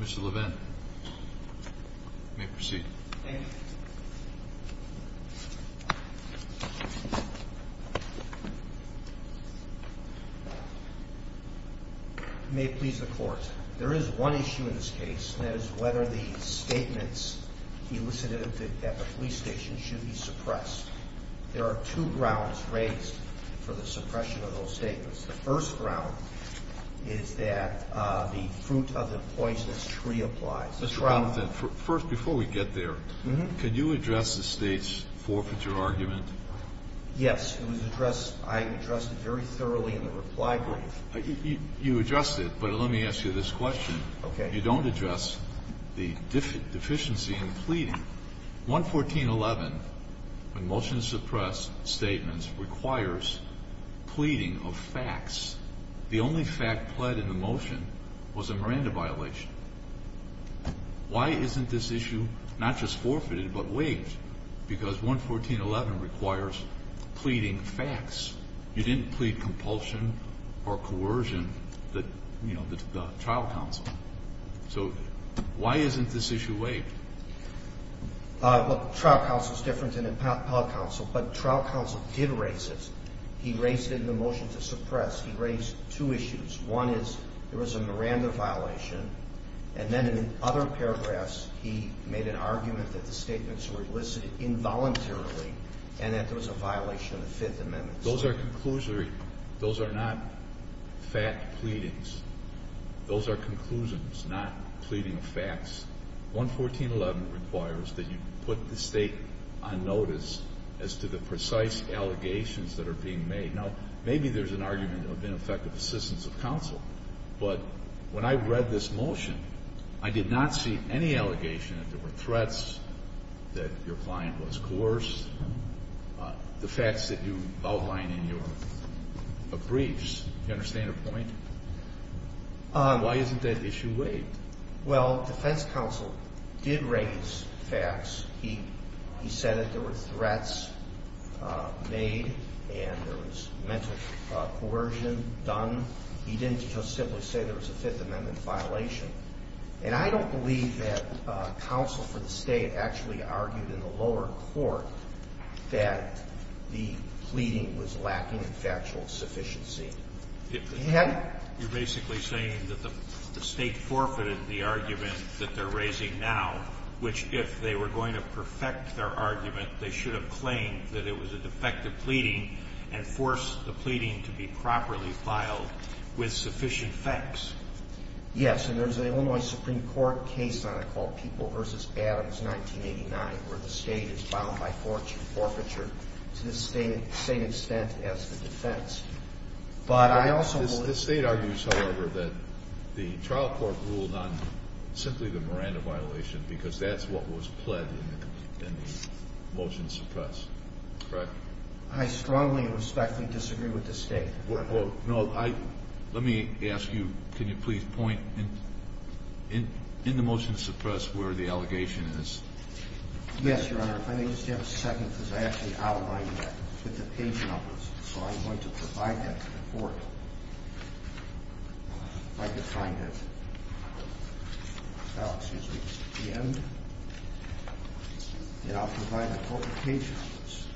Mr. Levin, you may proceed. Thank you. May it please the Court, there is one issue in this case, and that is whether the statements elicited at the police station should be suppressed. There are two grounds raised for the suppression of those statements. The first ground is that the fruit of the poisonous tree applies. The second ground is that the statements elicited at the police station should be suppressed. The third ground is that the statements elicited at the police station should be suppressed. Why isn't this issue not just forfeited but waived? Because 114.11 requires pleading facts. You didn't plead compulsion or coercion, you know, to the trial counsel. So why isn't this issue waived? Well, trial counsel is different than appellate counsel, but trial counsel did raise it. He raised it in the motion to suppress. He raised two issues. One is there was a Miranda violation, and then in other paragraphs he made an argument that the statements were elicited involuntarily and that there was a violation of the Fifth Amendment. Those are conclusions. Those are not fact pleadings. Those are conclusions, not pleading facts. 114.11 requires that you put the State on notice as to the precise allegations that are being made. Now, maybe there's an argument of ineffective assistance of counsel, but when I read this motion, I did not see any allegation that there were threats, that your client was coerced. The facts that you outline in your briefs, do you understand the point? Why isn't that issue waived? Well, defense counsel did raise facts. He said that there were threats made and there was mental coercion done. He didn't just simply say there was a Fifth Amendment violation. And I don't believe that counsel for the State actually argued in the lower court that the pleading was lacking in factual sufficiency. You're basically saying that the State forfeited the argument that they're raising now, which if they were going to perfect their argument, they should have claimed that it was a defective pleading and forced the pleading to be properly filed with sufficient facts. Yes, and there's an Illinois Supreme Court case on it called People v. Adams, 1989, where the State is bound by forfeiture to the same extent as the defense. The State argues, however, that the trial court ruled on simply the Miranda violation because that's what was pled in the motion to suppress, correct? I strongly and respectfully disagree with the State. Let me ask you, can you please point in the motion to suppress where the allegation is? Yes, Your Honor. If I may just have a second because I actually outlined that with the page numbers, so I'm going to provide that to the court. If I could find it. Oh, excuse me, just at the end. And I'll provide a quote with page numbers.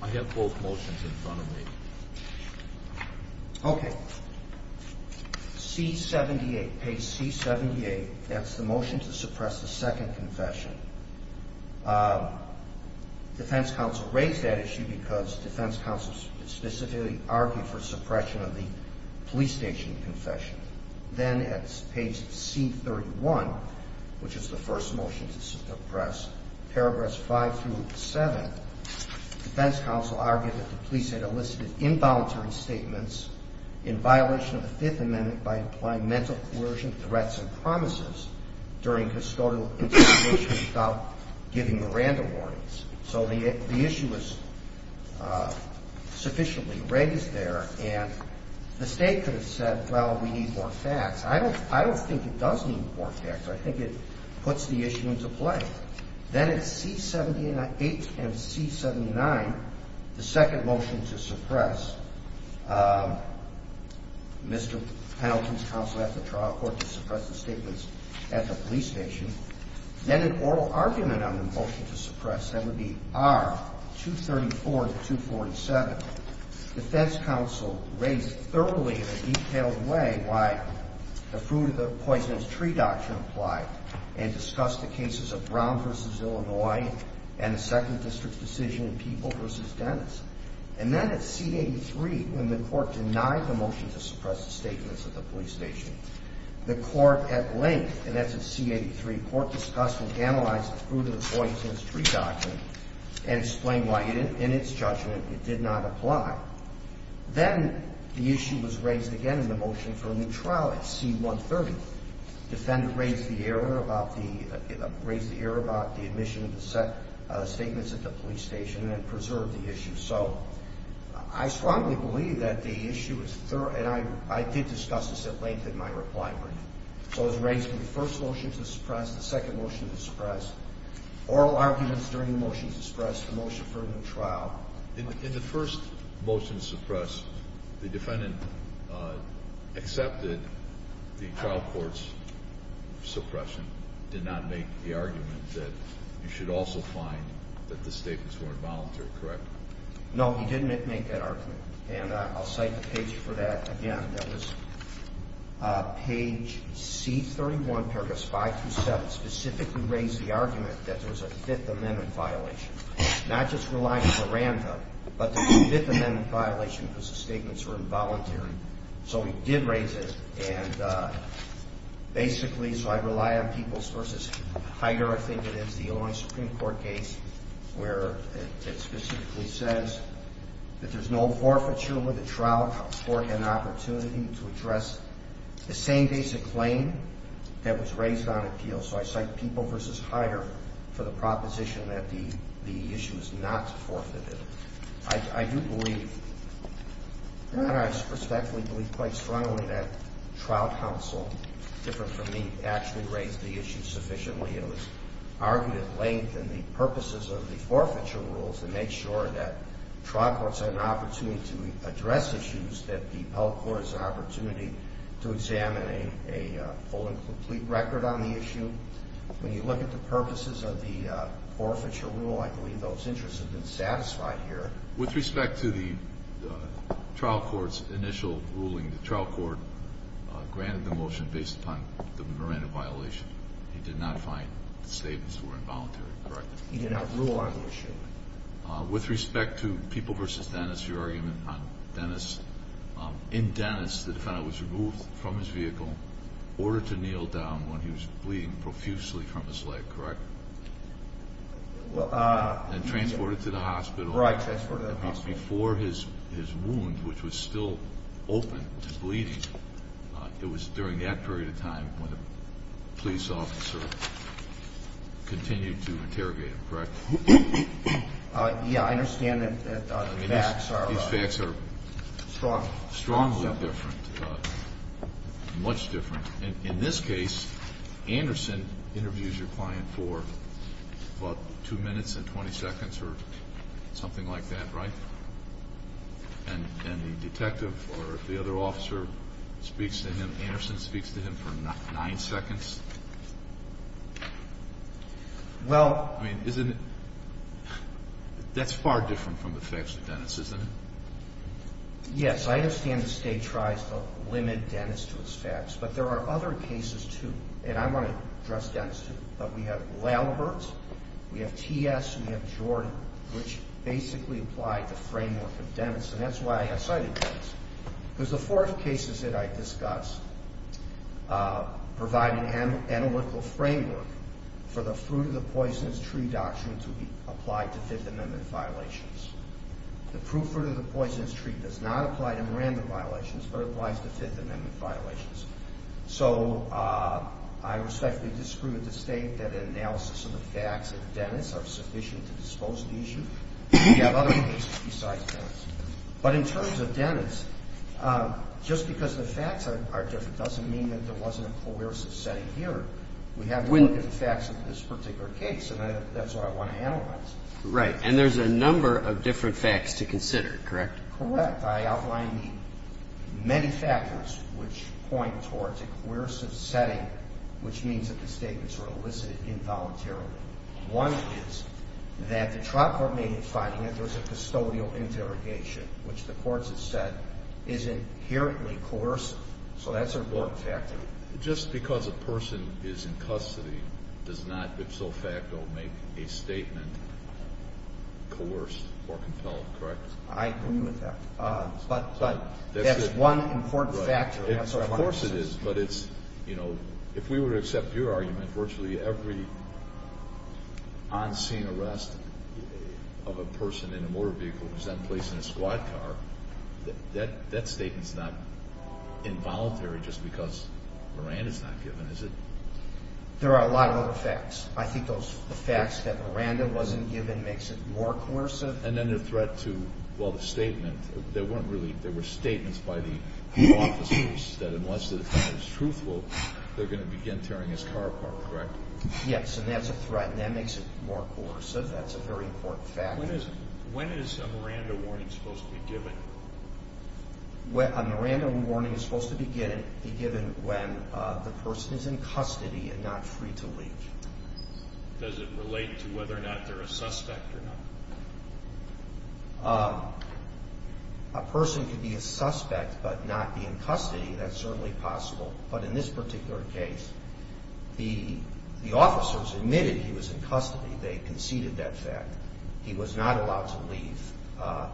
I have both motions in front of me. Okay. C-78, page C-78, that's the motion to suppress the second confession. Defense counsel raised that issue because defense counsel specifically argued for suppression of the police station confession. Then at page C-31, which is the first motion to suppress, paragraphs 5 through 7, defense counsel argued that the police had elicited involuntary statements in violation of the Fifth Amendment by implying mental coercion, threats, and promises during custodial interrogation without giving Miranda warnings. So the issue was sufficiently raised there, and the State could have said, well, we need more facts. I don't think it does need more facts. I think it puts the issue into play. Then at C-78 and C-79, the second motion to suppress, Mr. Penalty's counsel asked the trial court to suppress the statements at the police station. Then an oral argument on the motion to suppress, that would be R-234 to 247, defense counsel raised thoroughly in a detailed way why the fruit of the poisonous tree doctrine did not apply and discussed the cases of Brown v. Illinois and the second district's decision in People v. Dennis. And then at C-83, when the court denied the motion to suppress the statements at the police station, the court at length, and that's at C-83, court discussed and analyzed the fruit of the poisonous tree doctrine and explained why in its judgment it did not apply. Then the issue was raised again in the motion for a new trial at C-130. The defendant raised the error about the admission of the statements at the police station and preserved the issue. So I strongly believe that the issue is thorough, and I did discuss this at length in my reply brief. So it was raised in the first motion to suppress, the second motion to suppress, oral arguments during the motion to suppress, the motion for a new trial. In the first motion to suppress, the defendant accepted the trial court's suppression, did not make the argument that you should also find that the statements were involuntary, correct? No, he didn't make that argument. And I'll cite the page for that again. That was page C-31, paragraphs 5 through 7, specifically raised the argument that there was a Fifth Amendment violation, not just relying on the random, but the Fifth Amendment violation because the statements were involuntary. So he did raise it, and basically, so I rely on Peoples v. Heider, I think it is the only Supreme Court case where it specifically says that there's no forfeiture with the trial court an opportunity to address the same basic claim that was raised on appeal. So I cite Peoples v. Heider for the proposition that the issue is not forfeited. I do believe, and I respectfully believe quite strongly that trial counsel, different from me, actually raised the issue sufficiently. It was argued at length in the purposes of the forfeiture rules to make sure that trial courts had an opportunity to address issues, that the appellate court has an opportunity to examine a full and complete record on the issue. When you look at the purposes of the forfeiture rule, I believe those interests have been satisfied here. With respect to the trial court's initial ruling, the trial court granted the motion based upon the random violation. He did not find the statements were involuntary, correct? He did not rule on the issue. With respect to Peoples v. Dennis, your argument on Dennis, in Dennis the defendant was removed from his vehicle, ordered to kneel down when he was bleeding profusely from his leg, correct? And transported to the hospital. Right, transported to the hospital. Before his wound, which was still open, was bleeding, it was during that period of time when a police officer continued to interrogate him, correct? Yeah, I understand that the facts are strong. Strongly different, much different. In this case, Anderson interviews your client for about 2 minutes and 20 seconds or something like that, right? And the detective or the other officer speaks to him, Anderson speaks to him for 9 seconds? Well, I mean, isn't it, that's far different from the facts of Dennis, isn't it? Yes, I understand the State tries to limit Dennis to its facts, but there are other cases too, and I want to address Dennis too, but we have Lalbert, we have T.S., we have Jordan, which basically apply the framework of Dennis, and that's why I cited Dennis. Because the four cases that I discussed provide an analytical framework for the fruit-of-the-poisonous-tree doctrine to be applied to Fifth Amendment violations. The fruit-of-the-poisonous-tree does not apply to Miranda violations, but applies to Fifth Amendment violations. So I respectfully disagree with the State that an analysis of the facts of Dennis are sufficient to dispose of the issue. We have other cases besides Dennis. But in terms of Dennis, just because the facts are different doesn't mean that there wasn't a coercive setting here. We have to look at the facts of this particular case, and that's what I want to analyze. Right. And there's a number of different facts to consider, correct? Correct. I outlined the many factors which point towards a coercive setting, which means that the statements were elicited involuntarily. One is that the trial court made the finding that there was a custodial interrogation, which the courts have said is inherently coercive. So that's an important factor. Just because a person is in custody does not, if so facto, make a statement coerced or compelled, correct? I agree with that. But that's one important factor. Of course it is. But it's, you know, if we were to accept your argument, virtually every on-scene arrest of a person in a motor vehicle who's then placed in a squad car, that statement's not involuntary just because Miranda's not given, is it? There are a lot of other facts. I think the facts that Miranda wasn't given makes it more coercive. And then the threat to, well, the statement, there weren't really, there were statements by the law officers that unless the defendant is truthful, they're going to begin tearing his car apart, correct? Yes, and that's a threat, and that makes it more coercive. That's a very important factor. When is a Miranda warning supposed to be given? A Miranda warning is supposed to be given when the person is in custody and not free to leave. Does it relate to whether or not they're a suspect or not? A person could be a suspect but not be in custody. That's certainly possible. But in this particular case, the officers admitted he was in custody. They conceded that fact. He was not allowed to leave. But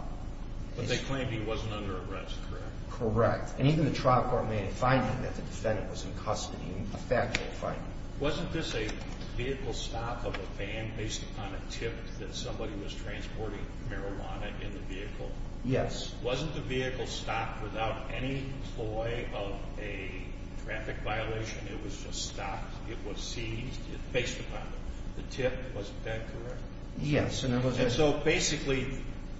they claimed he wasn't under arrest, correct? Correct. And even the trial court made a finding that the defendant was in custody, a factual finding. Wasn't this a vehicle stop of a van based upon a tip that somebody was transporting marijuana in the vehicle? Yes. Wasn't the vehicle stopped without any ploy of a traffic violation? It was just stopped. It was seized based upon the tip. Wasn't that correct? Yes. And so basically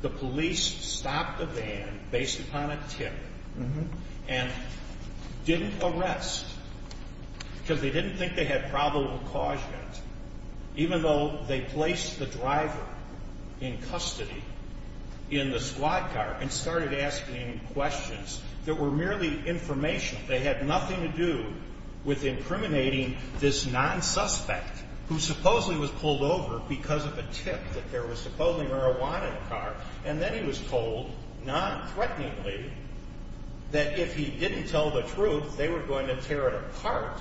the police stopped the van based upon a tip and didn't arrest because they didn't think they had probable cause yet, even though they placed the driver in custody in the squad car and started asking questions that were merely information. They had nothing to do with impriminating this non-suspect who supposedly was pulled over because of a tip that there was supposedly marijuana in the car. And then he was told nonthreateningly that if he didn't tell the truth, they were going to tear it apart.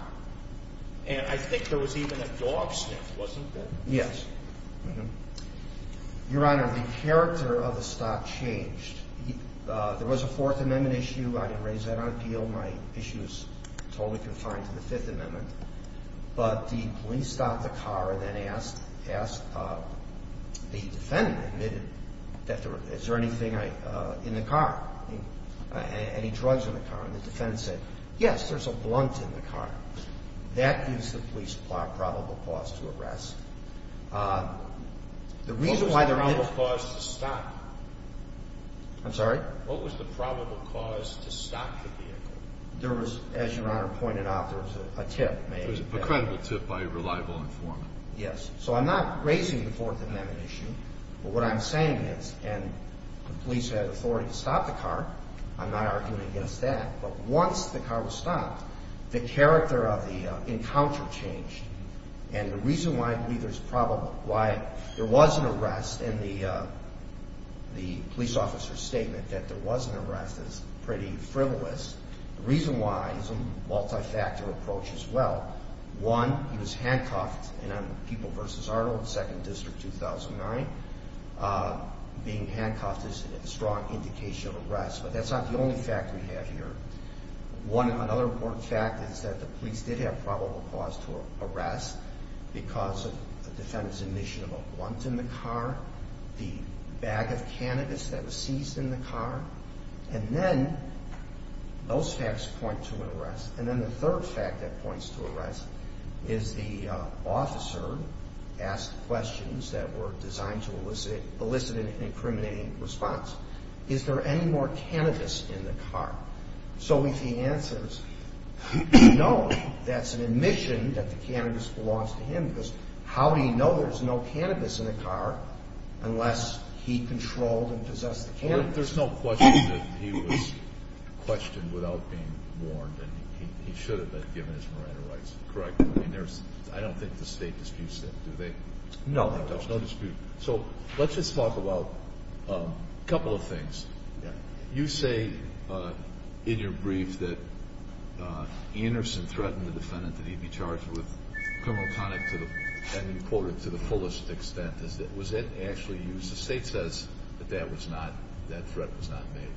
And I think there was even a dog sniff, wasn't there? Yes. Your Honor, the character of the stop changed. There was a Fourth Amendment issue. I didn't raise that on appeal. My issue is totally confined to the Fifth Amendment. But the police stopped the car and then asked the defendant, admitted, is there anything in the car, any drugs in the car? And the defendant said, yes, there's a blunt in the car. That gives the police probable cause to arrest. What was the probable cause to stop? I'm sorry? What was the probable cause to stop the vehicle? There was, as Your Honor pointed out, there was a tip. A credible tip by a reliable informant. Yes. So I'm not raising the Fourth Amendment issue. But what I'm saying is, and the police had authority to stop the car. I'm not arguing against that. But once the car was stopped, the character of the encounter changed. And the reason why there was an arrest and the police officer's statement that there was an arrest is pretty frivolous. The reason why is a multi-factor approach as well. One, he was handcuffed in People v. Arnold, 2nd District, 2009. Being handcuffed is a strong indication of arrest. But that's not the only fact we have here. Another important fact is that the police did have probable cause to arrest because of the defendant's admission of a blunt in the car, the bag of cannabis that was seized in the car. And then those facts point to an arrest. And then the third fact that points to arrest is the officer asked questions that were designed to elicit an incriminating response. Is there any more cannabis in the car? So if he answers no, that's an admission that the cannabis belongs to him because how would he know there's no cannabis in the car unless he controlled and possessed the cannabis? There's no question that he was questioned without being warned and he should have been given his marijuana rights, correct? I don't think the state disputes that, do they? No, there's no dispute. So let's just talk about a couple of things. You say in your brief that Anderson threatened the defendant that he'd be charged with criminal conduct to the fullest extent. Was that actually used? The state says that that threat was not made.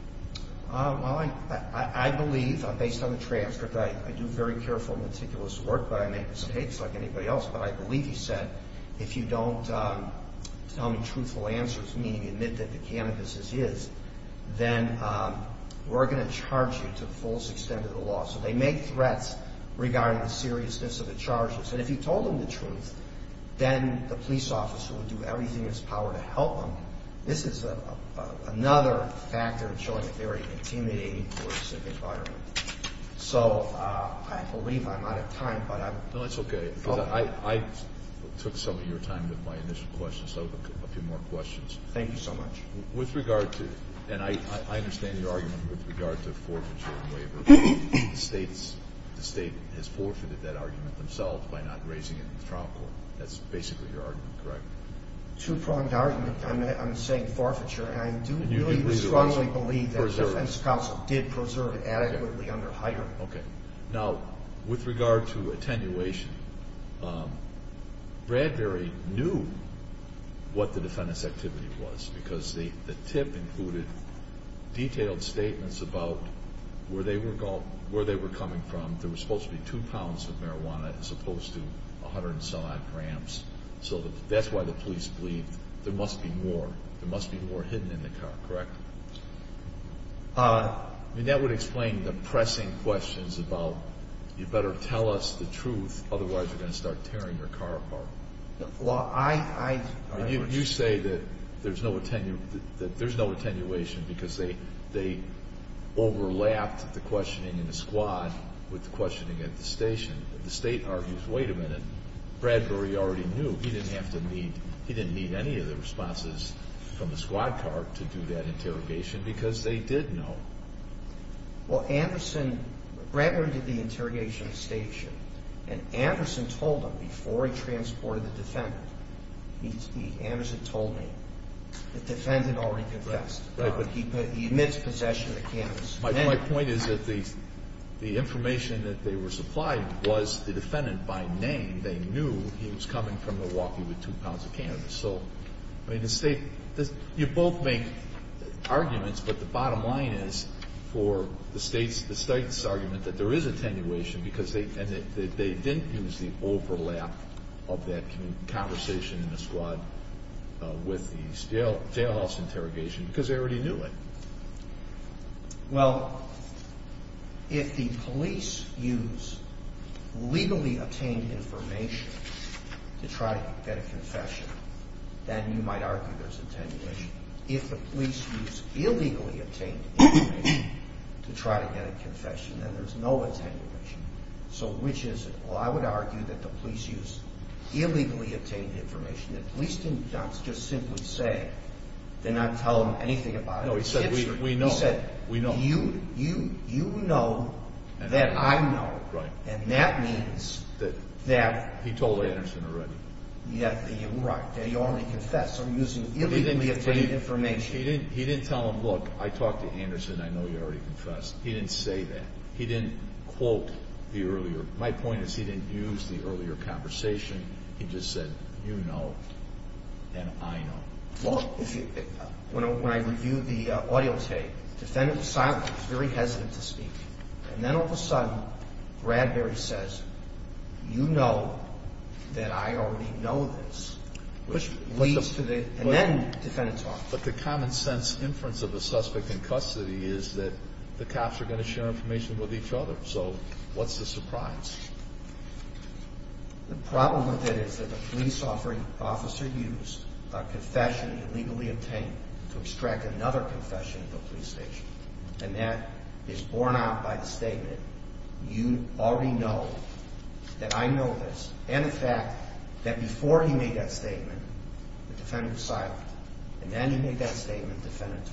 Well, I believe, based on the transcript, I do very careful and meticulous work, but I make mistakes like anybody else. But I believe he said, if you don't tell me truthful answers, meaning admit that the cannabis is his, then we're going to charge you to the fullest extent of the law. So they make threats regarding the seriousness of the charges. And if you told him the truth, then the police officer would do everything in his power to help him. This is another factor in showing a very intimidating coercive environment. So I believe I'm out of time. No, that's okay. I took some of your time with my initial questions, so a few more questions. Thank you so much. With regard to, and I understand your argument with regard to forfeiture and waiver. The state has forfeited that argument themselves by not raising it in the trial court. That's basically your argument, correct? Two-pronged argument. I'm saying forfeiture. And I do really strongly believe that the defense counsel did preserve it adequately under hire. Okay. Now, with regard to attenuation, Bradbury knew what the defendant's activity was because the tip included detailed statements about where they were coming from. There was supposed to be two pounds of marijuana as opposed to 100-and-some-odd grams. So that's why the police believed there must be more. There must be more hidden in the car, correct? That would explain the pressing questions about you better tell us the truth, otherwise you're going to start tearing your car apart. You say that there's no attenuation because they overlapped the questioning in the squad with the questioning at the station. The state argues, wait a minute, Bradbury already knew. He didn't need any of the responses from the squad car to do that interrogation because they did know. Well, Anderson, Bradbury did the interrogation at the station, and Anderson told them before he transported the defendant, Anderson told me, the defendant already confessed. He admits possession of the cannabis. My point is that the information that they were supplying was the defendant by name. They knew he was coming from Milwaukee with two pounds of cannabis. So, I mean, the state, you both make arguments, but the bottom line is for the state's argument that there is attenuation because they didn't use the overlap of that conversation in the squad with the jailhouse interrogation because they already knew it. Well, if the police use legally obtained information to try to get a confession, then you might argue there's attenuation. If the police use illegally obtained information to try to get a confession, then there's no attenuation. So which is it? Well, I would argue that the police use illegally obtained information. The police didn't just simply say, did not tell him anything about it. No, he said, we know. He said, you know that I know. Right. And that means that. He told Anderson already. Right. He only confessed. So using illegally obtained information. He didn't tell him, look, I talked to Anderson. I know you already confessed. He didn't say that. He didn't quote the earlier. My point is he didn't use the earlier conversation. He just said, you know, and I know. Well, when I reviewed the audio tape, the defendant was silent. He was very hesitant to speak. And then all of a sudden Bradbury says, you know that I already know this. Which leads to the. And then the defendant talks. But the common sense inference of the suspect in custody is that the cops are going to share information with each other. So what's the surprise? The problem with it is that the police offering officer used a confession illegally obtained to extract another confession at the police station. And that is borne out by the statement. You already know that I know this. And the fact that before he made that statement, the defendant was silent. And then he made that statement, the defendant.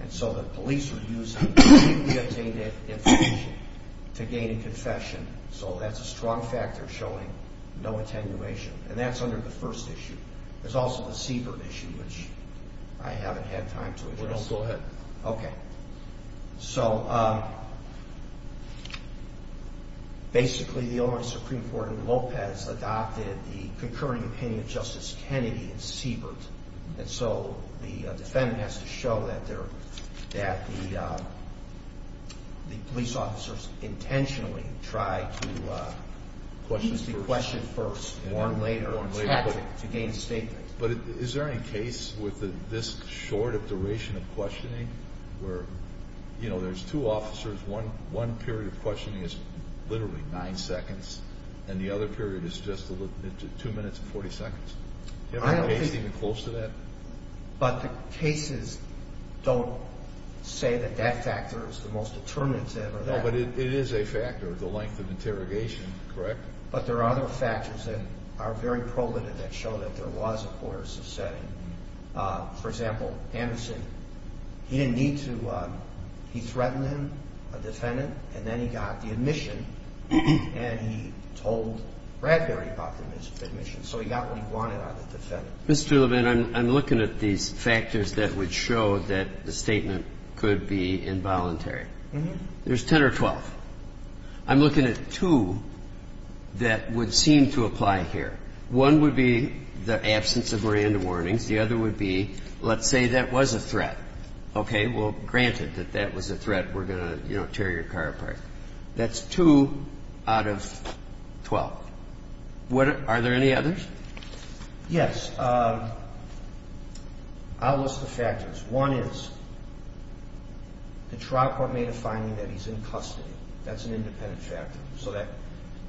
And so the police were using illegally obtained information to gain a confession. So that's a strong factor showing no attenuation. And that's under the first issue. There's also the Siebert issue, which I haven't had time to address. Go ahead. Okay. So basically the only Supreme Court in Lopez adopted the concurring opinion of Justice Kennedy and Siebert. And so the defendant has to show that the police officers intentionally tried to question first, warn later, to gain a statement. But is there any case with this short a duration of questioning where, you know, there's two officers. One period of questioning is literally nine seconds. And the other period is just two minutes and 40 seconds. Do you have a case even close to that? But the cases don't say that that factor is the most determinative or that. No, but it is a factor, the length of interrogation, correct? But there are other factors that are very probative that show that there was a coercive setting. For example, Anderson, he didn't need to. He threatened him, a defendant, and then he got the admission. And he told Bradbury about the admission. So he got what he wanted out of the defendant. Mr. Levin, I'm looking at these factors that would show that the statement could be involuntary. There's 10 or 12. I'm looking at two that would seem to apply here. One would be the absence of random warnings. The other would be let's say that was a threat. Okay. Well, granted that that was a threat, we're going to, you know, tear your car apart. That's two out of 12. Are there any others? Yes. I'll list the factors. One is the trial court made a finding that he's in custody. That's an independent factor.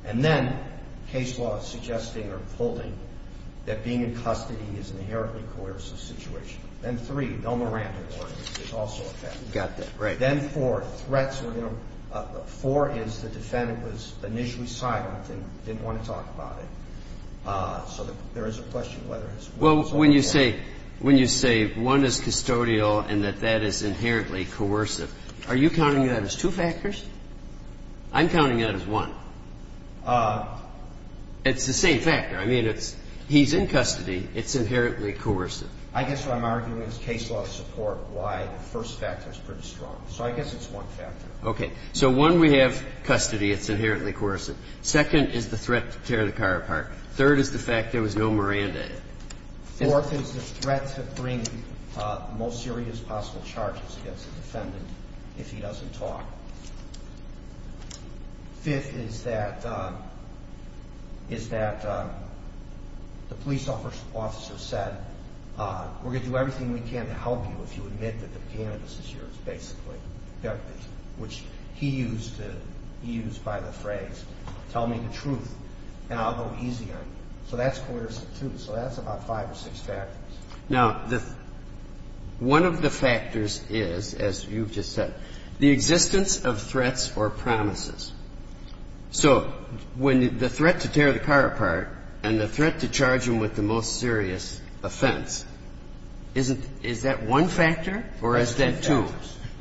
And then case law is suggesting or holding that being in custody is an inherently coercive situation. Then three, no more random warnings is also a factor. Got that, right. Then four, threats were going to be. Four is the defendant was initially silent and didn't want to talk about it. So there is a question whether it's a factor. Well, when you say one is custodial and that that is inherently coercive, are you counting that as two factors? I'm counting it as one. It's the same factor. I mean, it's he's in custody. It's inherently coercive. I guess what I'm arguing is case law support why the first factor is pretty strong. So I guess it's one factor. Okay. So one, we have custody. It's inherently coercive. Second is the threat to tear the car apart. Third is the fact there was no Miranda. Fourth is the threat to bring the most serious possible charges against the defendant if he doesn't talk. Fifth is that the police officer said, we're going to do everything we can to help you if you admit that the cannabis is yours, basically. Which he used by the phrase, tell me the truth. And I'll go easy on you. So that's coercive, too. So that's about five or six factors. Now, one of the factors is, as you've just said, the existence of threats or promises. So when the threat to tear the car apart and the threat to charge him with the most serious offense, is that one factor or is that two?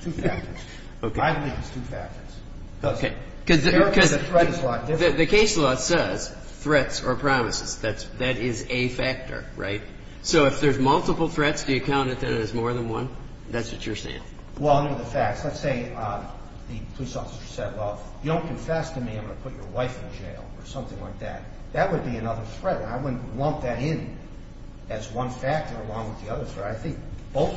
Two factors. Two factors. I believe it's two factors. Okay. Because the case law says threats or promises. That is a factor, right? So if there's multiple threats, do you count it as more than one? That's what you're saying. Well, I know the facts. Let's say the police officer said, well, if you don't confess to me, I'm going to put your wife in jail or something like that. That would be another threat. I wouldn't lump that in as one factor along with the other threat. I think both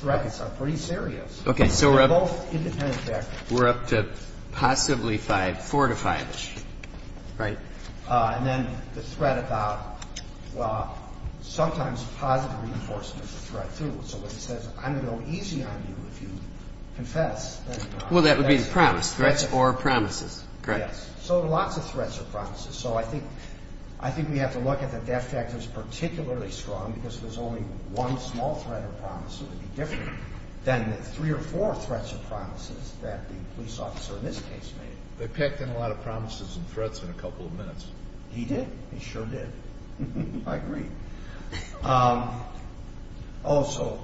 threats are pretty serious. Okay. So we're up to both independent factors. We're up to possibly four to five-ish, right? And then the threat about, well, sometimes positive reinforcement is a threat, too. So when he says, I'm going to go easy on you if you confess. Well, that would be the promise. Threats or promises. Correct. Yes. So lots of threats or promises. So I think we have to look at the death factor as particularly strong because there's only one small threat or promise. It would be different than the three or four threats or promises that the police officer in this case made. They packed in a lot of promises and threats in a couple of minutes. He did. He sure did. I agree. Also,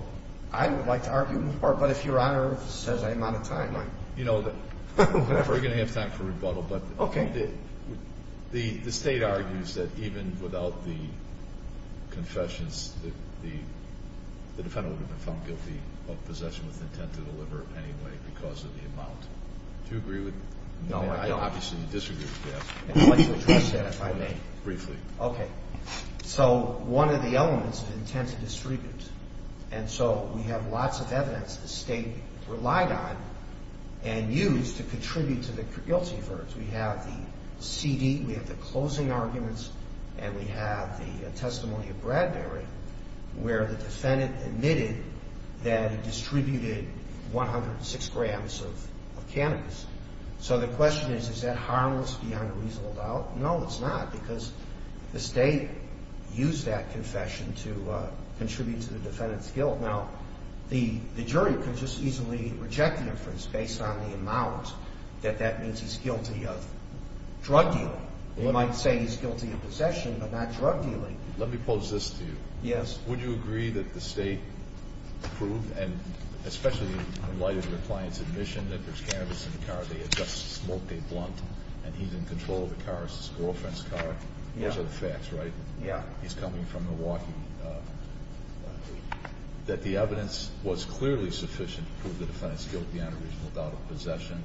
I would like to argue more, but if Your Honor says I'm out of time, I'm... You know, we're going to have time for rebuttal. Okay. The State argues that even without the confessions, the defendant would have been found guilty of possession with intent to deliver anyway because of the amount. Do you agree with that? No, I don't. I obviously disagree with that. I'd like to address that, if I may. Briefly. Okay. So one of the elements of intent to distribute. And so we have lots of evidence the State relied on and used to contribute to the guilty verdict. We have the CD. We have the closing arguments. And we have the testimony of Bradbury where the defendant admitted that he distributed 106 grams of cannabis. So the question is, is that harmless beyond a reasonable doubt? No, it's not because the State used that confession to contribute to the defendant's guilt. Now, the jury could just easily reject the inference based on the amount that that means he's guilty of drug dealing. They might say he's guilty of possession but not drug dealing. Let me pose this to you. Yes. Would you agree that the State proved, and especially in light of your client's admission that there's cannabis in the car, they adjust the smoke, they blunt, and he's in control of the car, his girlfriend's car? Yeah. Those are the facts, right? Yeah. He's coming from Milwaukee. That the evidence was clearly sufficient to prove the defendant's guilt beyond a reasonable doubt of possession?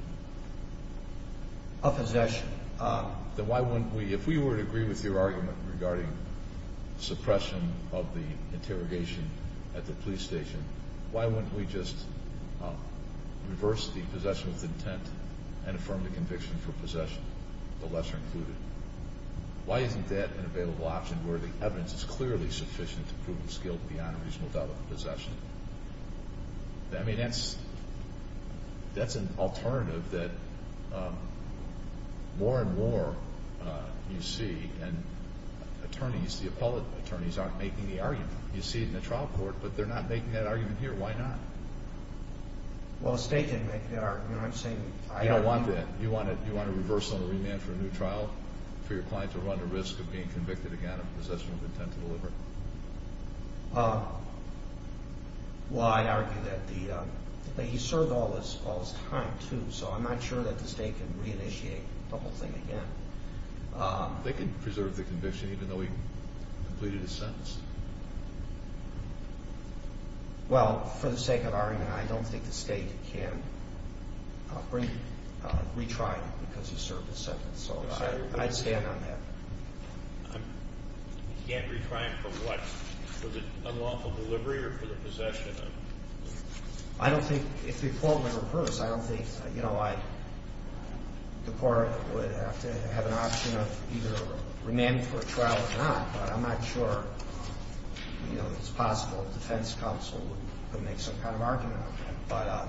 Of possession. Then why wouldn't we, if we were to agree with your argument regarding suppression of the interrogation at the police station, why wouldn't we just reverse the possession with intent and affirm the conviction for possession, the lesser included? Why isn't that an available option where the evidence is clearly sufficient to prove his guilt beyond a reasonable doubt of possession? I mean, that's an alternative that more and more you see, and attorneys, the appellate attorneys, aren't making the argument. You see it in the trial court, but they're not making that argument here. Why not? Well, the State didn't make that argument. I'm saying I agree. You don't want that. You want to reverse on a remand for a new trial for your client to run the risk of being convicted again of possession with intent to deliver? Well, I'd argue that he served all this time, too, so I'm not sure that the State can reinitiate the whole thing again. They can preserve the conviction even though he completed his sentence. Well, for the sake of argument, I don't think the State can retry it because he served his sentence, so I'd stand on that. He can't retry it for what? For the unlawful delivery or for the possession? I don't think, if you quote Mr. Bruce, I don't think, you know, the court would have to have an option of either remand for a trial or not, but I'm not sure, you know, it's possible the defense counsel would make some kind of argument on that. But,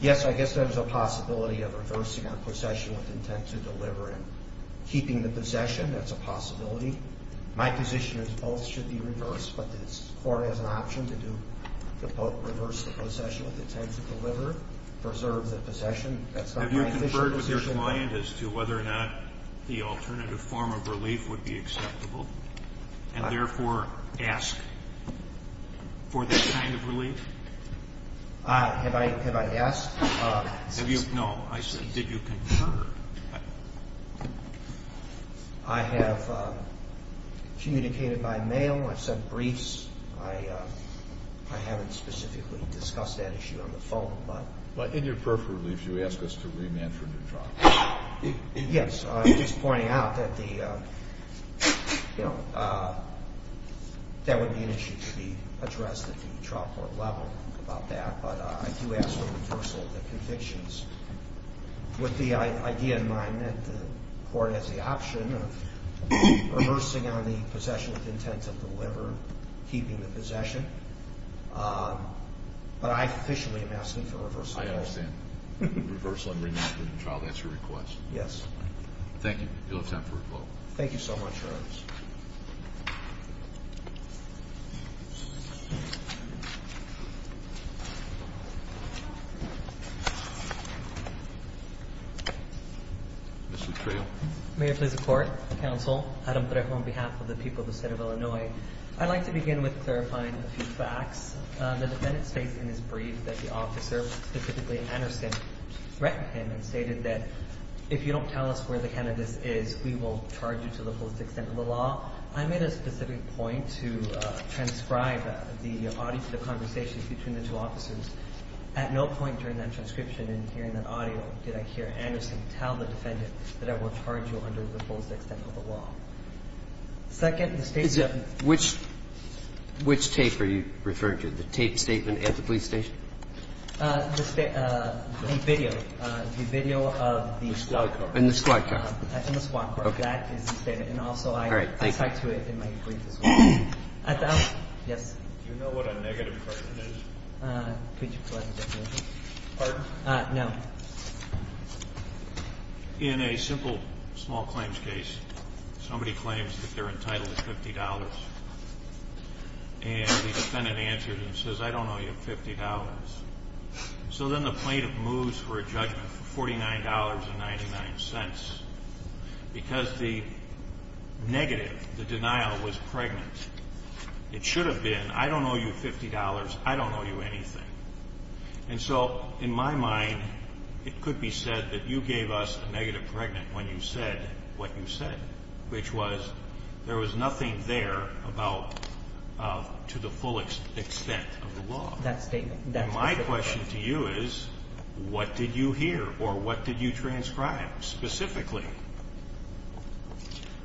yes, I guess there's a possibility of reversing on possession with intent to deliver and keeping the possession. That's a possibility. My position is both should be reversed, but the court has an option to reverse the possession with intent to deliver, preserve the possession. Have you conferred with your client as to whether or not the alternative form of relief would be acceptable and, therefore, ask for that kind of relief? Have I asked? No, I said did you confer? I have communicated by mail. I've sent briefs. I haven't specifically discussed that issue on the phone. But in your peripheral relief, you ask us to remand for a new trial. Yes, I'm just pointing out that the, you know, that would be an issue to be addressed at the trial court level about that, but I do ask for reversal of the convictions with the idea in mind that the court has the option of reversing on the possession with intent to deliver, keeping the possession, but I officially am asking for reversal. I understand. Reversal and remand for the trial, that's your request? Yes. Thank you. You'll have time for a quote. Thank you so much, Your Honors. Mr. Trejo. May it please the Court, Counsel, Adam Trejo on behalf of the people of the State of Illinois, I'd like to begin with clarifying a few facts. The defendant states in his brief that the officer, specifically Anderson, threatened him and stated that if you don't tell us where the cannabis is, we will charge you to the fullest extent of the law. I made a specific point to transcribe the audio to the conversations between the two officers. At no point during that transcription and hearing that audio did I hear Anderson tell the defendant that I will charge you under the fullest extent of the law. Second, the State's – Which tape are you referring to, the tape statement at the police station? The video, the video of the – In the squad car. In the squad car. That's in the squad car. That is the statement. And also I – All right, thank you. I talked to it in my brief as well. Yes. Do you know what a negative person is? Could you collect the definition? Pardon? No. In a simple small claims case, somebody claims that they're entitled to $50. And the defendant answers and says, I don't owe you $50. So then the plaintiff moves for a judgment for $49.99. Because the negative, the denial, was pregnant. It should have been, I don't owe you $50, I don't owe you anything. And so, in my mind, it could be said that you gave us a negative pregnant when you said what you said, which was there was nothing there about to the fullest extent of the law. That statement. And my question to you is, what did you hear or what did you transcribe specifically?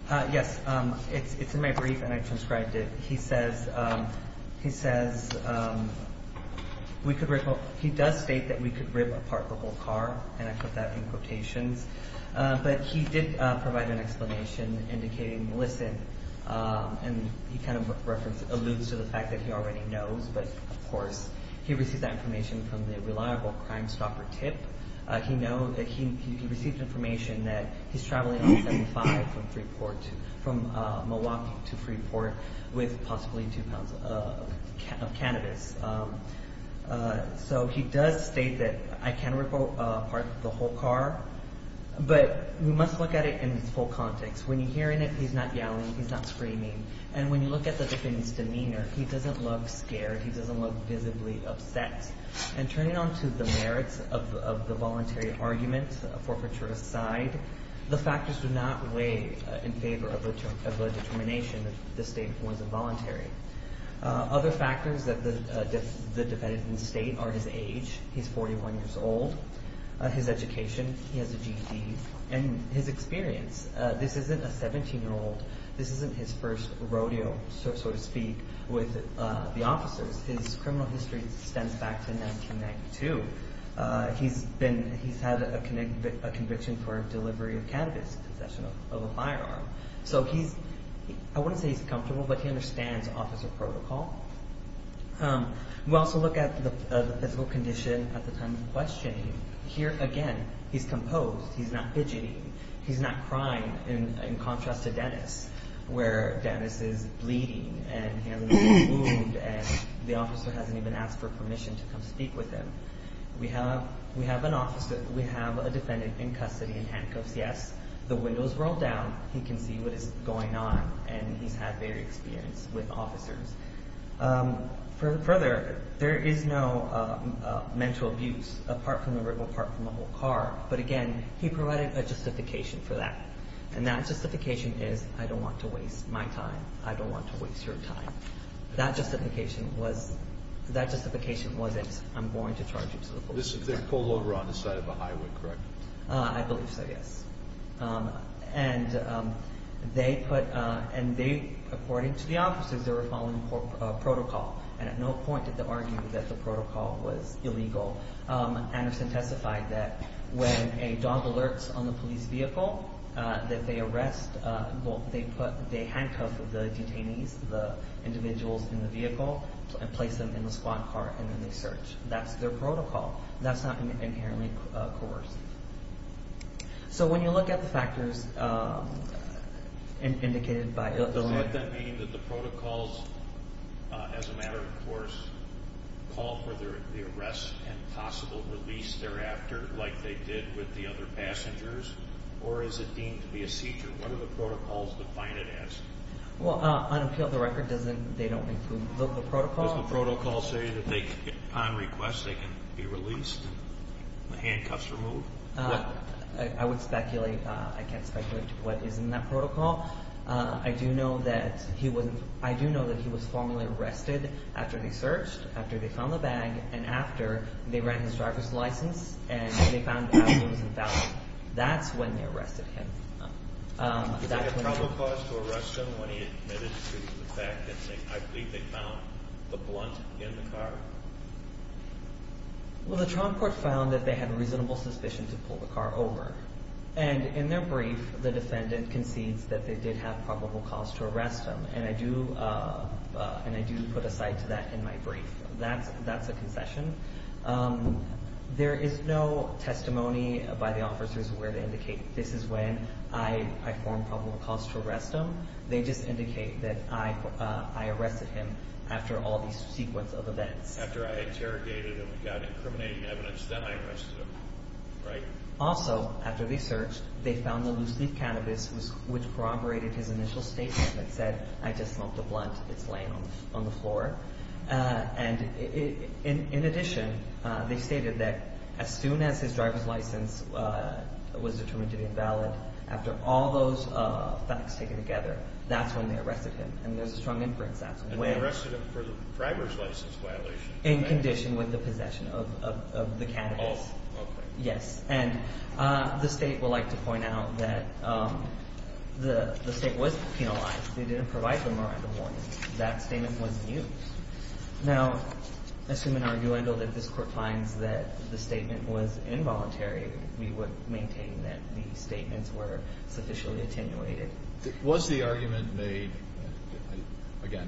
Yes. It's in my brief, and I transcribed it. He says we could – he does state that we could rip apart the whole car. And I put that in quotations. But he did provide an explanation indicating, listen, and he kind of alludes to the fact that he already knows. But, of course, he received that information from the reliable Crime Stopper tip. He received information that he's traveling on 75 from Milwaukee to Freeport with possibly two pounds of cannabis. So he does state that I can rip apart the whole car. But we must look at it in its full context. When you hear it, he's not yelling, he's not screaming. And when you look at the defendant's demeanor, he doesn't look scared. He doesn't look visibly upset. And turning on to the merits of the voluntary argument, forfeiture aside, the factors do not weigh in favor of the determination if the state was involuntary. Other factors that the defendant can state are his age. He's 41 years old. His education. He has a GED. And his experience. This isn't a 17-year-old. This isn't his first rodeo, so to speak, with the officers. His criminal history extends back to 1992. He's had a conviction for delivery of cannabis in possession of a firearm. So I wouldn't say he's comfortable, but he understands officer protocol. We also look at the physical condition at the time of questioning. Here, again, he's composed. He's not fidgeting. He's not crying, in contrast to Dennis, where Dennis is bleeding, and he has a wound, and the officer hasn't even asked for permission to come speak with him. We have an officer. We have a defendant in custody, in handcuffs, yes. The windows roll down. He can see what is going on. And he's had varied experience with officers. Further, there is no mental abuse, apart from the rip apart from the whole car. But, again, he provided a justification for that. And that justification is, I don't want to waste my time. I don't want to waste your time. That justification wasn't, I'm going to charge you to the police. They pulled over on the side of a highway, correct? I believe so, yes. And they, according to the officers, they were following protocol. And at no point did they argue that the protocol was illegal. Anderson testified that when a dog alerts on the police vehicle that they arrest, they handcuff the detainees, the individuals in the vehicle, and place them in the squad car, and then they search. That's their protocol. That's not inherently coercive. So when you look at the factors indicated by the letter… Does that mean that the protocols, as a matter of course, call for the arrest and possible release thereafter, like they did with the other passengers? Or is it deemed to be a seizure? What do the protocols define it as? Well, on appeal of the record, they don't include the protocol. Does the protocol say that on request they can be released, handcuffs removed? I would speculate. I can't speculate what is in that protocol. I do know that he was formally arrested after they searched, after they found the bag, and after they ran his driver's license and they found out he was invalid. That's when they arrested him. Was there a probable cause to arrest him when he admitted to the fact that I believe they found the blunt in the car? Well, the trial court found that they had reasonable suspicion to pull the car over. And in their brief, the defendant concedes that they did have probable cause to arrest him, and I do put a side to that in my brief. That's a concession. There is no testimony by the officers where to indicate this is when I formed probable cause to arrest him. They just indicate that I arrested him after all these sequence of events. After I interrogated him, got incriminating evidence, then I arrested him, right? Also, after they searched, they found the loose leaf cannabis, which corroborated his initial statement that said, I just smoked a blunt. It's laying on the floor. And in addition, they stated that as soon as his driver's license was determined to be invalid, after all those facts taken together, that's when they arrested him. And there's a strong inference that's when. And they arrested him for the driver's license violation? In condition with the possession of the cannabis. Oh, okay. Yes. And the State would like to point out that the State was penalized. They didn't provide the Miranda warning. That statement was used. Now, assuming arguable that this Court finds that the statement was involuntary, we would maintain that the statements were sufficiently attenuated. Was the argument made, again,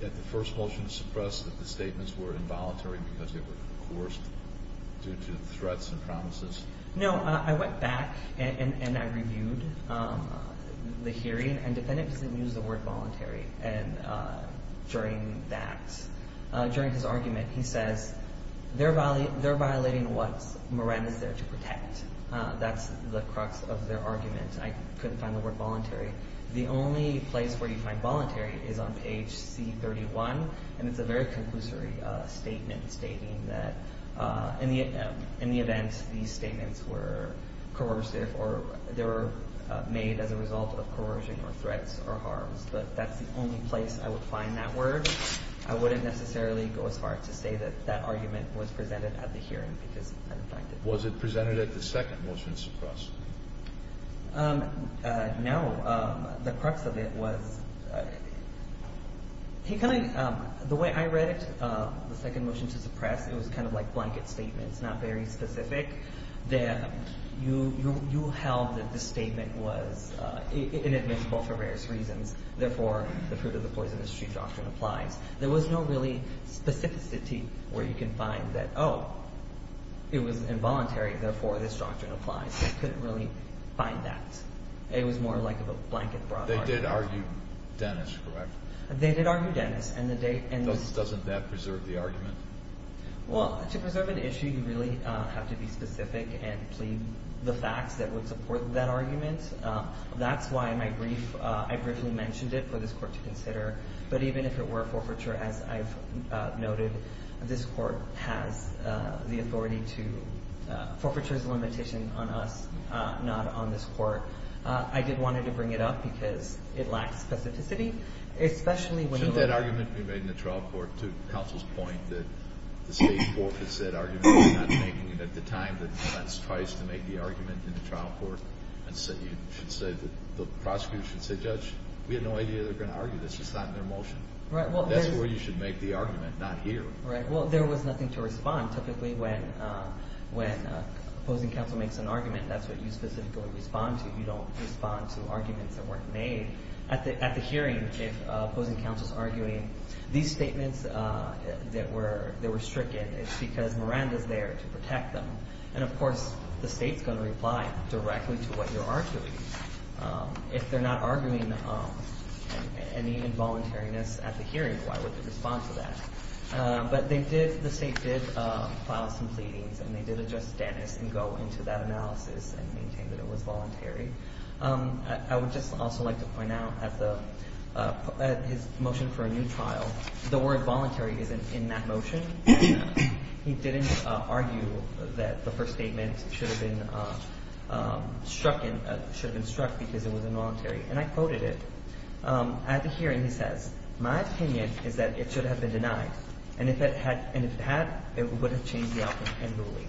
that the first motion suppressed that the statements were involuntary because they were coerced due to threats and promises? No. I went back and I reviewed the hearing. And the defendant didn't use the word voluntary. And during that, during his argument, he says, they're violating what Miranda is there to protect. That's the crux of their argument. I couldn't find the word voluntary. The only place where you find voluntary is on page C31. And it's a very conclusory statement stating that in the event these statements were coercive or they were made as a result of coercion or threats or harms. But that's the only place I would find that word. I wouldn't necessarily go as far to say that that argument was presented at the hearing because I didn't find it. Was it presented at the second motion to suppress? No. The crux of it was, the way I read it, the second motion to suppress, it was kind of like blanket statements, not very specific. That you held that the statement was inadmissible for various reasons. Therefore, the fruit of the poisonous tree doctrine applies. There was no really specificity where you can find that, oh, it was involuntary. Therefore, this doctrine applies. I couldn't really find that. It was more like a blanket broad argument. They did argue Dennis, correct? They did argue Dennis. Doesn't that preserve the argument? Well, to preserve an issue, you really have to be specific and plead the facts that would support that argument. That's why I briefly mentioned it for this court to consider. But even if it were forfeiture, as I've noted, this court has the authority to ‑‑ forfeiture is a limitation on us, not on this court. I did want to bring it up because it lacks specificity, especially when you ‑‑ Shouldn't that argument be made in the trial court to counsel's point that the State Court has said arguments are not making it? At the time, the defense tries to make the argument in the trial court. And you should say that the prosecutor should say, judge, we had no idea they were going to argue this. We should sign their motion. Right. That's where you should make the argument, not here. Right. Well, there was nothing to respond. Typically, when opposing counsel makes an argument, that's what you specifically respond to. You don't respond to arguments that weren't made. At the hearing, if opposing counsel is arguing these statements that were stricken, it's because Miranda is there to protect them. And, of course, the State is going to reply directly to what you're arguing. If they're not arguing any involuntariness at the hearing, why would they respond to that? But they did ‑‑ the State did file some pleadings, and they did address Dennis and go into that analysis and maintain that it was voluntary. I would just also like to point out at the ‑‑ at his motion for a new trial, the word voluntary is in that motion. He didn't argue that the first statement should have been struck because it was involuntary. And I quoted it. At the hearing, he says, my opinion is that it should have been denied. And if it had, it would have changed the outcome and ruling.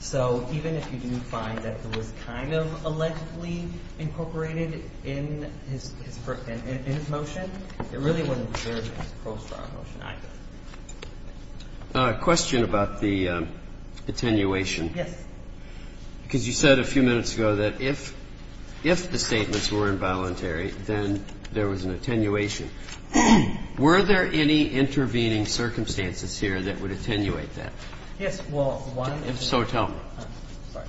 So even if you do find that it was kind of allegedly incorporated in his motion, it really wouldn't have served as an approach to our motion either. A question about the attenuation. Yes. Because you said a few minutes ago that if the statements were involuntary, then there was an attenuation. Were there any intervening circumstances here that would attenuate that? Yes. Well, one ‑‑ If so, tell me. Sorry.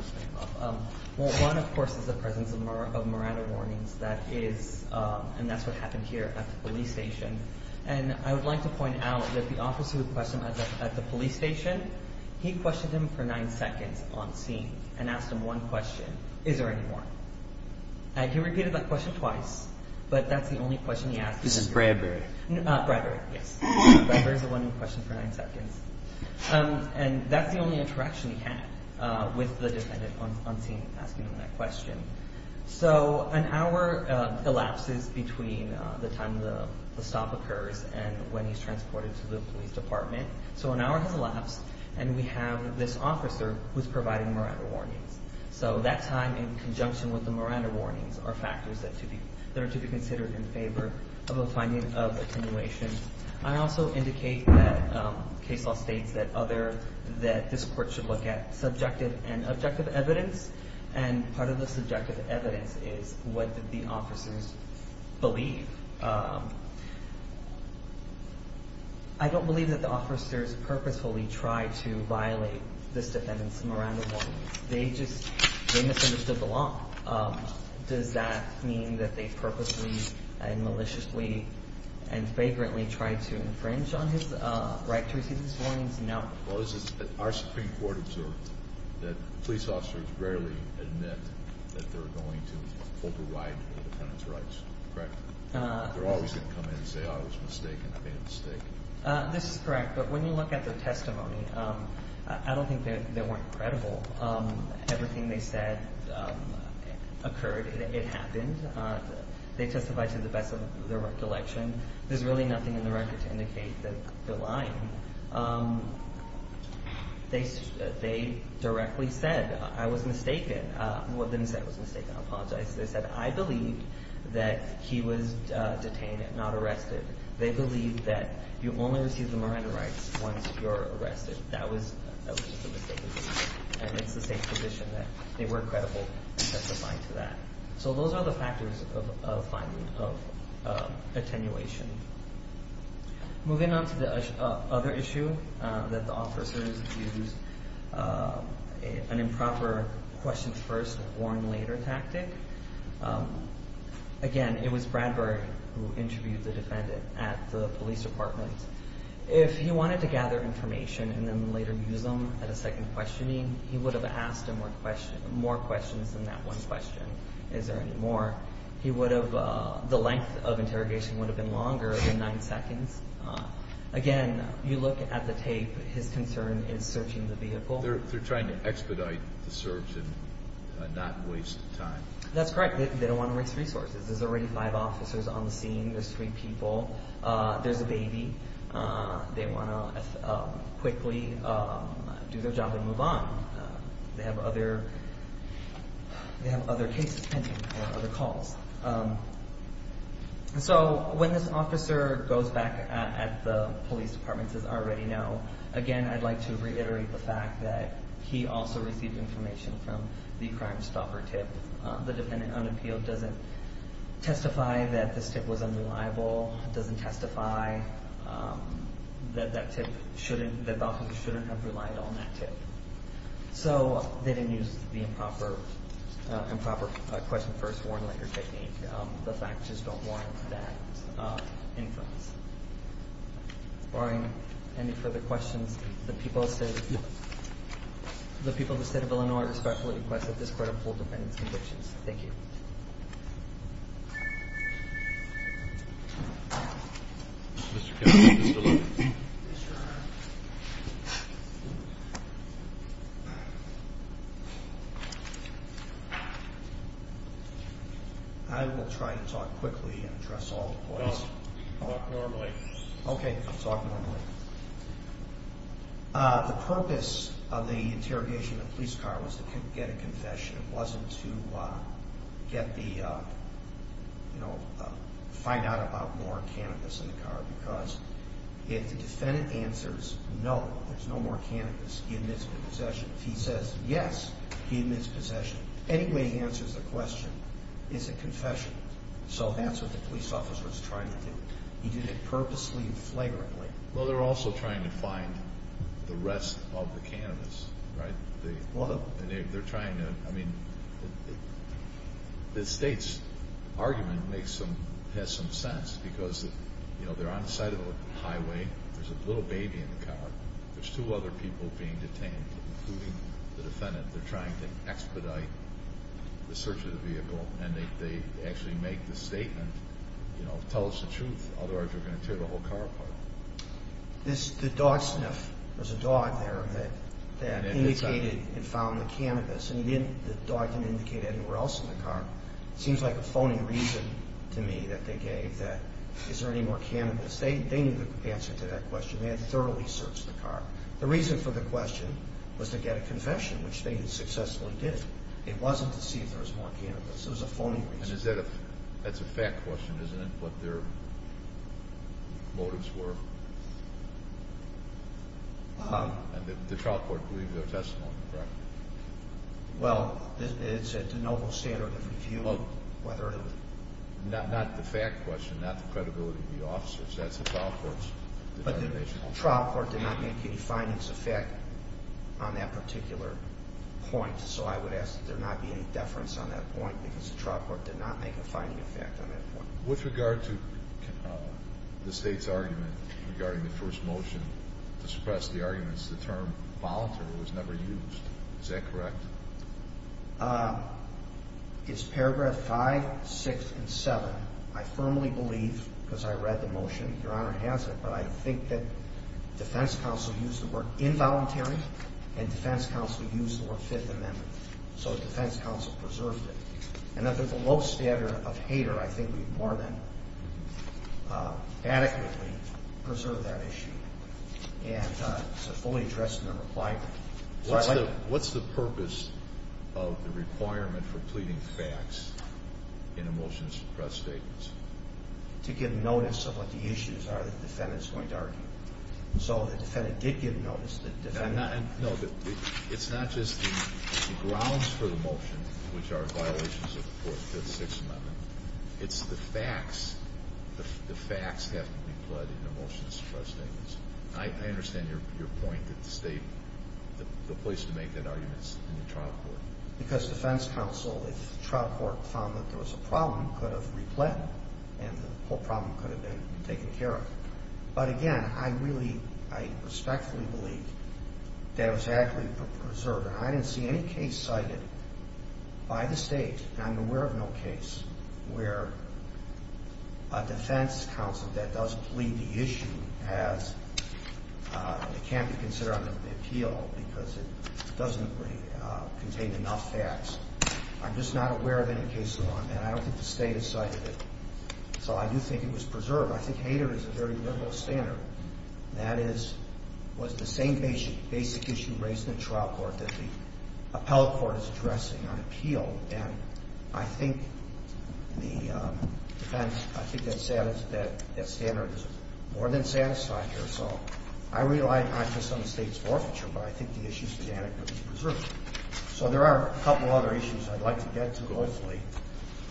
Well, one, of course, is the presence of Marada warnings. That is ‑‑ and that's what happened here at the police station. And I would like to point out that the officer who questioned at the police station, he questioned him for nine seconds on scene and asked him one question, is there any more? He repeated that question twice, but that's the only question he asked. This is Bradbury. Bradbury, yes. Bradbury is the one who questioned for nine seconds. And that's the only interaction he had with the defendant on scene asking him that question. So an hour elapses between the time the stop occurs and when he's transported to the police department. So an hour has elapsed, and we have this officer who's providing Marada warnings. So that time in conjunction with the Marada warnings are factors that are to be considered in favor of a finding of attenuation. I also indicate that case law states that other ‑‑ that this court should look at subjective and objective evidence. And part of the subjective evidence is what did the officers believe. I don't believe that the officers purposefully tried to violate this defendant's Marada warnings. They just ‑‑ they misunderstood the law. Does that mean that they purposely and maliciously and vaguely tried to infringe on his right to receive these warnings? No. Our Supreme Court observed that police officers rarely admit that they're going to override the defendant's rights, correct? They're always going to come in and say I was mistaken, I made a mistake. This is correct. But when you look at their testimony, I don't think they weren't credible. Everything they said occurred. It happened. They testified to the best of their recollection. There's really nothing in the record to indicate that they're lying. They directly said I was mistaken. Well, they didn't say I was mistaken. I apologize. They said I believed that he was detained and not arrested. They believed that you only receive the Marada rights once you're arrested. That was the mistake they made. And it's the same position that they weren't credible in testifying to that. So those are the factors of attenuation. Moving on to the other issue that the officers used an improper question first, warn later tactic. Again, it was Bradbury who interviewed the defendant at the police department. If he wanted to gather information and then later use them at a second questioning, he would have asked more questions than that one question, is there any more. The length of interrogation would have been longer than nine seconds. Again, you look at the tape, his concern is searching the vehicle. They're trying to expedite the search and not waste time. That's correct. They don't want to waste resources. There's already five officers on the scene. There's three people. There's a baby. They want to quickly do their job and move on. They have other cases pending or other calls. So when this officer goes back at the police departments, as I already know, again, I'd like to reiterate the fact that he also received information from the crime stopper tip. The defendant unappealed, doesn't testify that this tip was unreliable, doesn't testify that that tip shouldn't, that the officer shouldn't have relied on that tip. So they didn't use the improper question first, warn later technique. The facts just don't warrant that inference. Barring any further questions, the people of the state of Illinois respectfully request that this court Thank you. I will try to talk quickly and address all the points. Okay. The purpose of the interrogation in the police car was to get a confession. It wasn't to get the, you know, find out about more cannabis in the car, because if the defendant answers no, there's no more cannabis, he admits to possession. If he says yes, he admits possession. Anyway he answers the question, it's a confession. So that's what the police officer was trying to do. He did it purposely and flagrantly. Well, they're also trying to find the rest of the cannabis, right? They're trying to, I mean, the state's argument makes some, has some sense, because, you know, they're on the side of the highway. There's a little baby in the car. There's two other people being detained, including the defendant. They're trying to expedite the search of the vehicle, and they actually make the statement, you know, tell us the truth, otherwise we're going to tear the whole car apart. The dog sniff, there was a dog there that indicated and found the cannabis, and the dog didn't indicate it anywhere else in the car. It seems like a phony reason to me that they gave that is there any more cannabis. They knew the answer to that question. They had thoroughly searched the car. The reason for the question was to get a confession, which they had successfully did. It wasn't to see if there was more cannabis. It was a phony reason. And is that a, that's a fact question, isn't it, what their motives were? And the trial court believed their testimony, correct? Well, it's at the noble standard of review whether it was. Not the fact question, not the credibility of the officers. That's the trial court's determination. But the trial court did not make any findings of fact on that particular point, so I would ask that there not be any deference on that point, because the trial court did not make a finding of fact on that point. With regard to the state's argument regarding the first motion to suppress the arguments, the term voluntary was never used. Is that correct? It's paragraph 5, 6, and 7. I firmly believe, because I read the motion, Your Honor has it, but I think that defense counsel used the word involuntary, and defense counsel used the word Fifth Amendment. So defense counsel preserved it. And under the low standard of hater, I think we more than adequately preserved that issue and it's fully addressed in the reply. What's the purpose of the requirement for pleading facts in a motion to suppress statements? To give notice of what the issues are that the defendant is going to argue. So the defendant did give notice. No, it's not just the grounds for the motion, which are violations of the Fifth, Sixth Amendment. It's the facts. The facts have to be pledged in a motion to suppress statements. I understand your point that the state, the place to make that argument is in the trial court. Because defense counsel, if the trial court found that there was a problem, could have repled, and the whole problem could have been taken care of. But again, I really, I respectfully believe that it was adequately preserved. And I didn't see any case cited by the state, and I'm aware of no case, where a defense counsel that does plead the issue as it can't be considered under the appeal because it doesn't contain enough facts. I'm just not aware of any case like that. I don't think the state has cited it. So I do think it was preserved. I think HADER is a very liberal standard. That is, was the same basic issue raised in the trial court that the appellate court is addressing on appeal. And I think the defense, I think that standard is more than satisfied here. So I rely not just on the state's forfeiture, but I think the issues began to be preserved. So there are a couple other issues I'd like to get to, hopefully.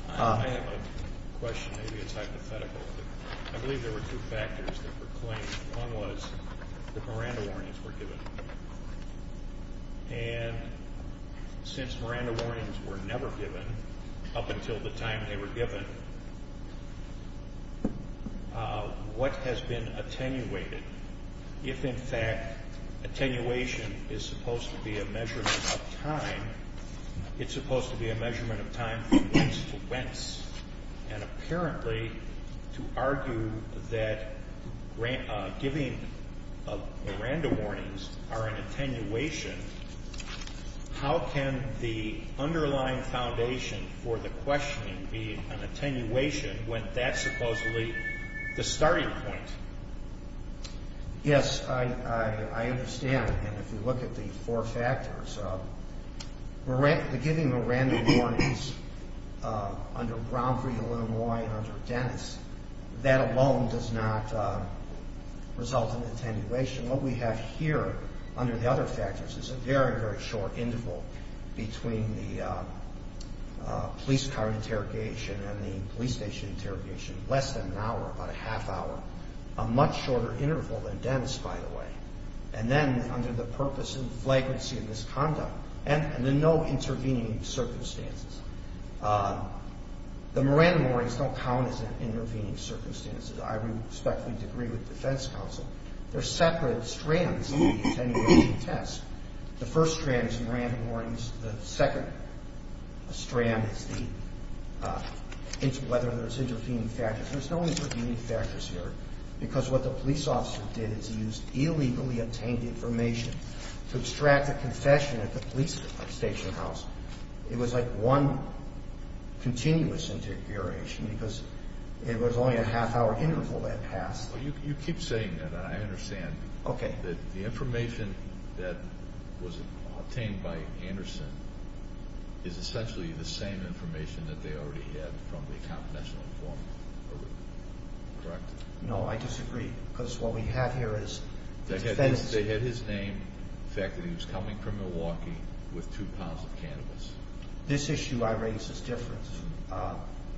I have a question. Maybe it's hypothetical, but I believe there were two factors that were claimed. One was that Miranda warnings were given. And since Miranda warnings were never given up until the time they were given, what has been attenuated? If, in fact, attenuation is supposed to be a measurement of time, it's supposed to be a measurement of time from whence to whence, and apparently to argue that giving Miranda warnings are an attenuation, how can the underlying foundation for the questioning be an attenuation when that's supposedly the starting point? Yes, I understand. And if you look at the four factors, giving Miranda warnings under Bromfrey, Illinois, and under Dennis, that alone does not result in attenuation. What we have here under the other factors is a very, very short interval between the police car interrogation and the police station interrogation, less than an hour, about a half hour, a much shorter interval than Dennis, by the way. And then under the purpose and flagrancy of this conduct, and then no intervening circumstances. The Miranda warnings don't count as intervening circumstances. I respectfully agree with the defense counsel. There are separate strands in the attenuation test. The first strand is the Miranda warnings. The second strand is whether there's intervening factors. There's no intervening factors here because what the police officer did is use illegally obtained information to extract a confession at the police station house. It was like one continuous interrogation because it was only a half hour interval that passed. You keep saying that. I understand. Okay. The information that was obtained by Anderson is essentially the same information that they already had from the confidential informant, correct? No, I disagree because what we have here is the defense. They had his name, the fact that he was coming from Milwaukee with two pounds of cannabis. This issue I raise is different.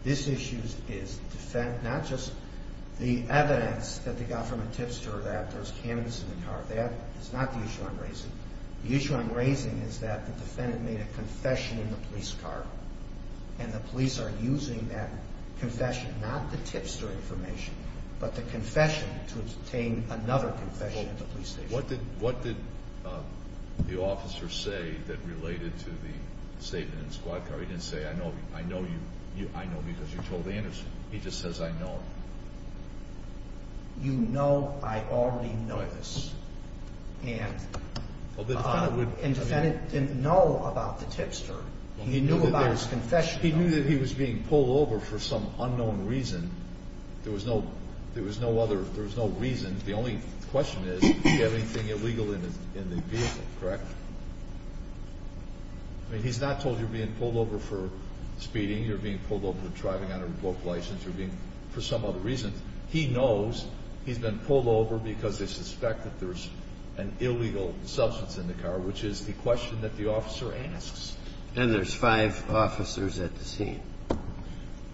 This issue is not just the evidence that they got from a tipster that there's cannabis in the car. That is not the issue I'm raising. The issue I'm raising is that the defendant made a confession in the police car and the police are using that confession, not the tipster information, but the confession to obtain another confession at the police station. What did the officer say that related to the statement in the squad car? He didn't say, I know because you told Anderson. He just says, I know. You know I already know this. And the defendant didn't know about the tipster. He knew about his confession. He knew that he was being pulled over for some unknown reason. There was no other reason. The only question is did he have anything illegal in the vehicle, correct? I mean, he's not told you're being pulled over for speeding, you're being pulled over for driving under a broke license, you're being for some other reason. He knows he's been pulled over because they suspect that there's an illegal substance in the car, which is the question that the officer asks. And there's five officers at the scene.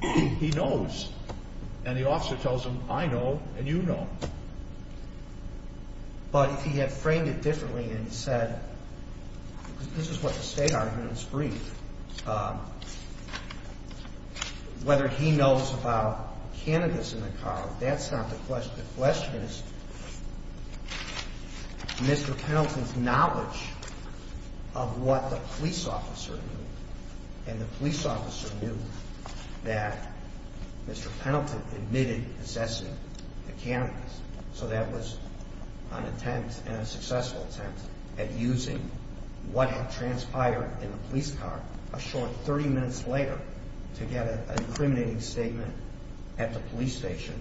He knows. And the officer tells him, I know and you know. But if he had framed it differently and said, this is what the state argument is brief, whether he knows about cannabis in the car, that's not the question. The question is Mr. Pendleton's knowledge of what the police officer knew. And the police officer knew that Mr. Pendleton admitted possessing the cannabis. So that was an attempt and a successful attempt at using what had transpired in the police car a short 30 minutes later to get an incriminating statement at the police station.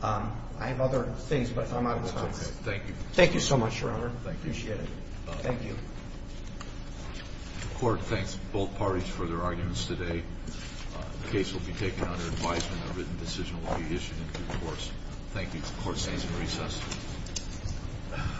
I have other things, but I'm out of time. Thank you. Thank you so much, Your Honor. Thank you. Appreciate it. Thank you. The court thanks both parties for their arguments today. The case will be taken under advisement. A written decision will be issued in due course. Thank you. The court stands in recess.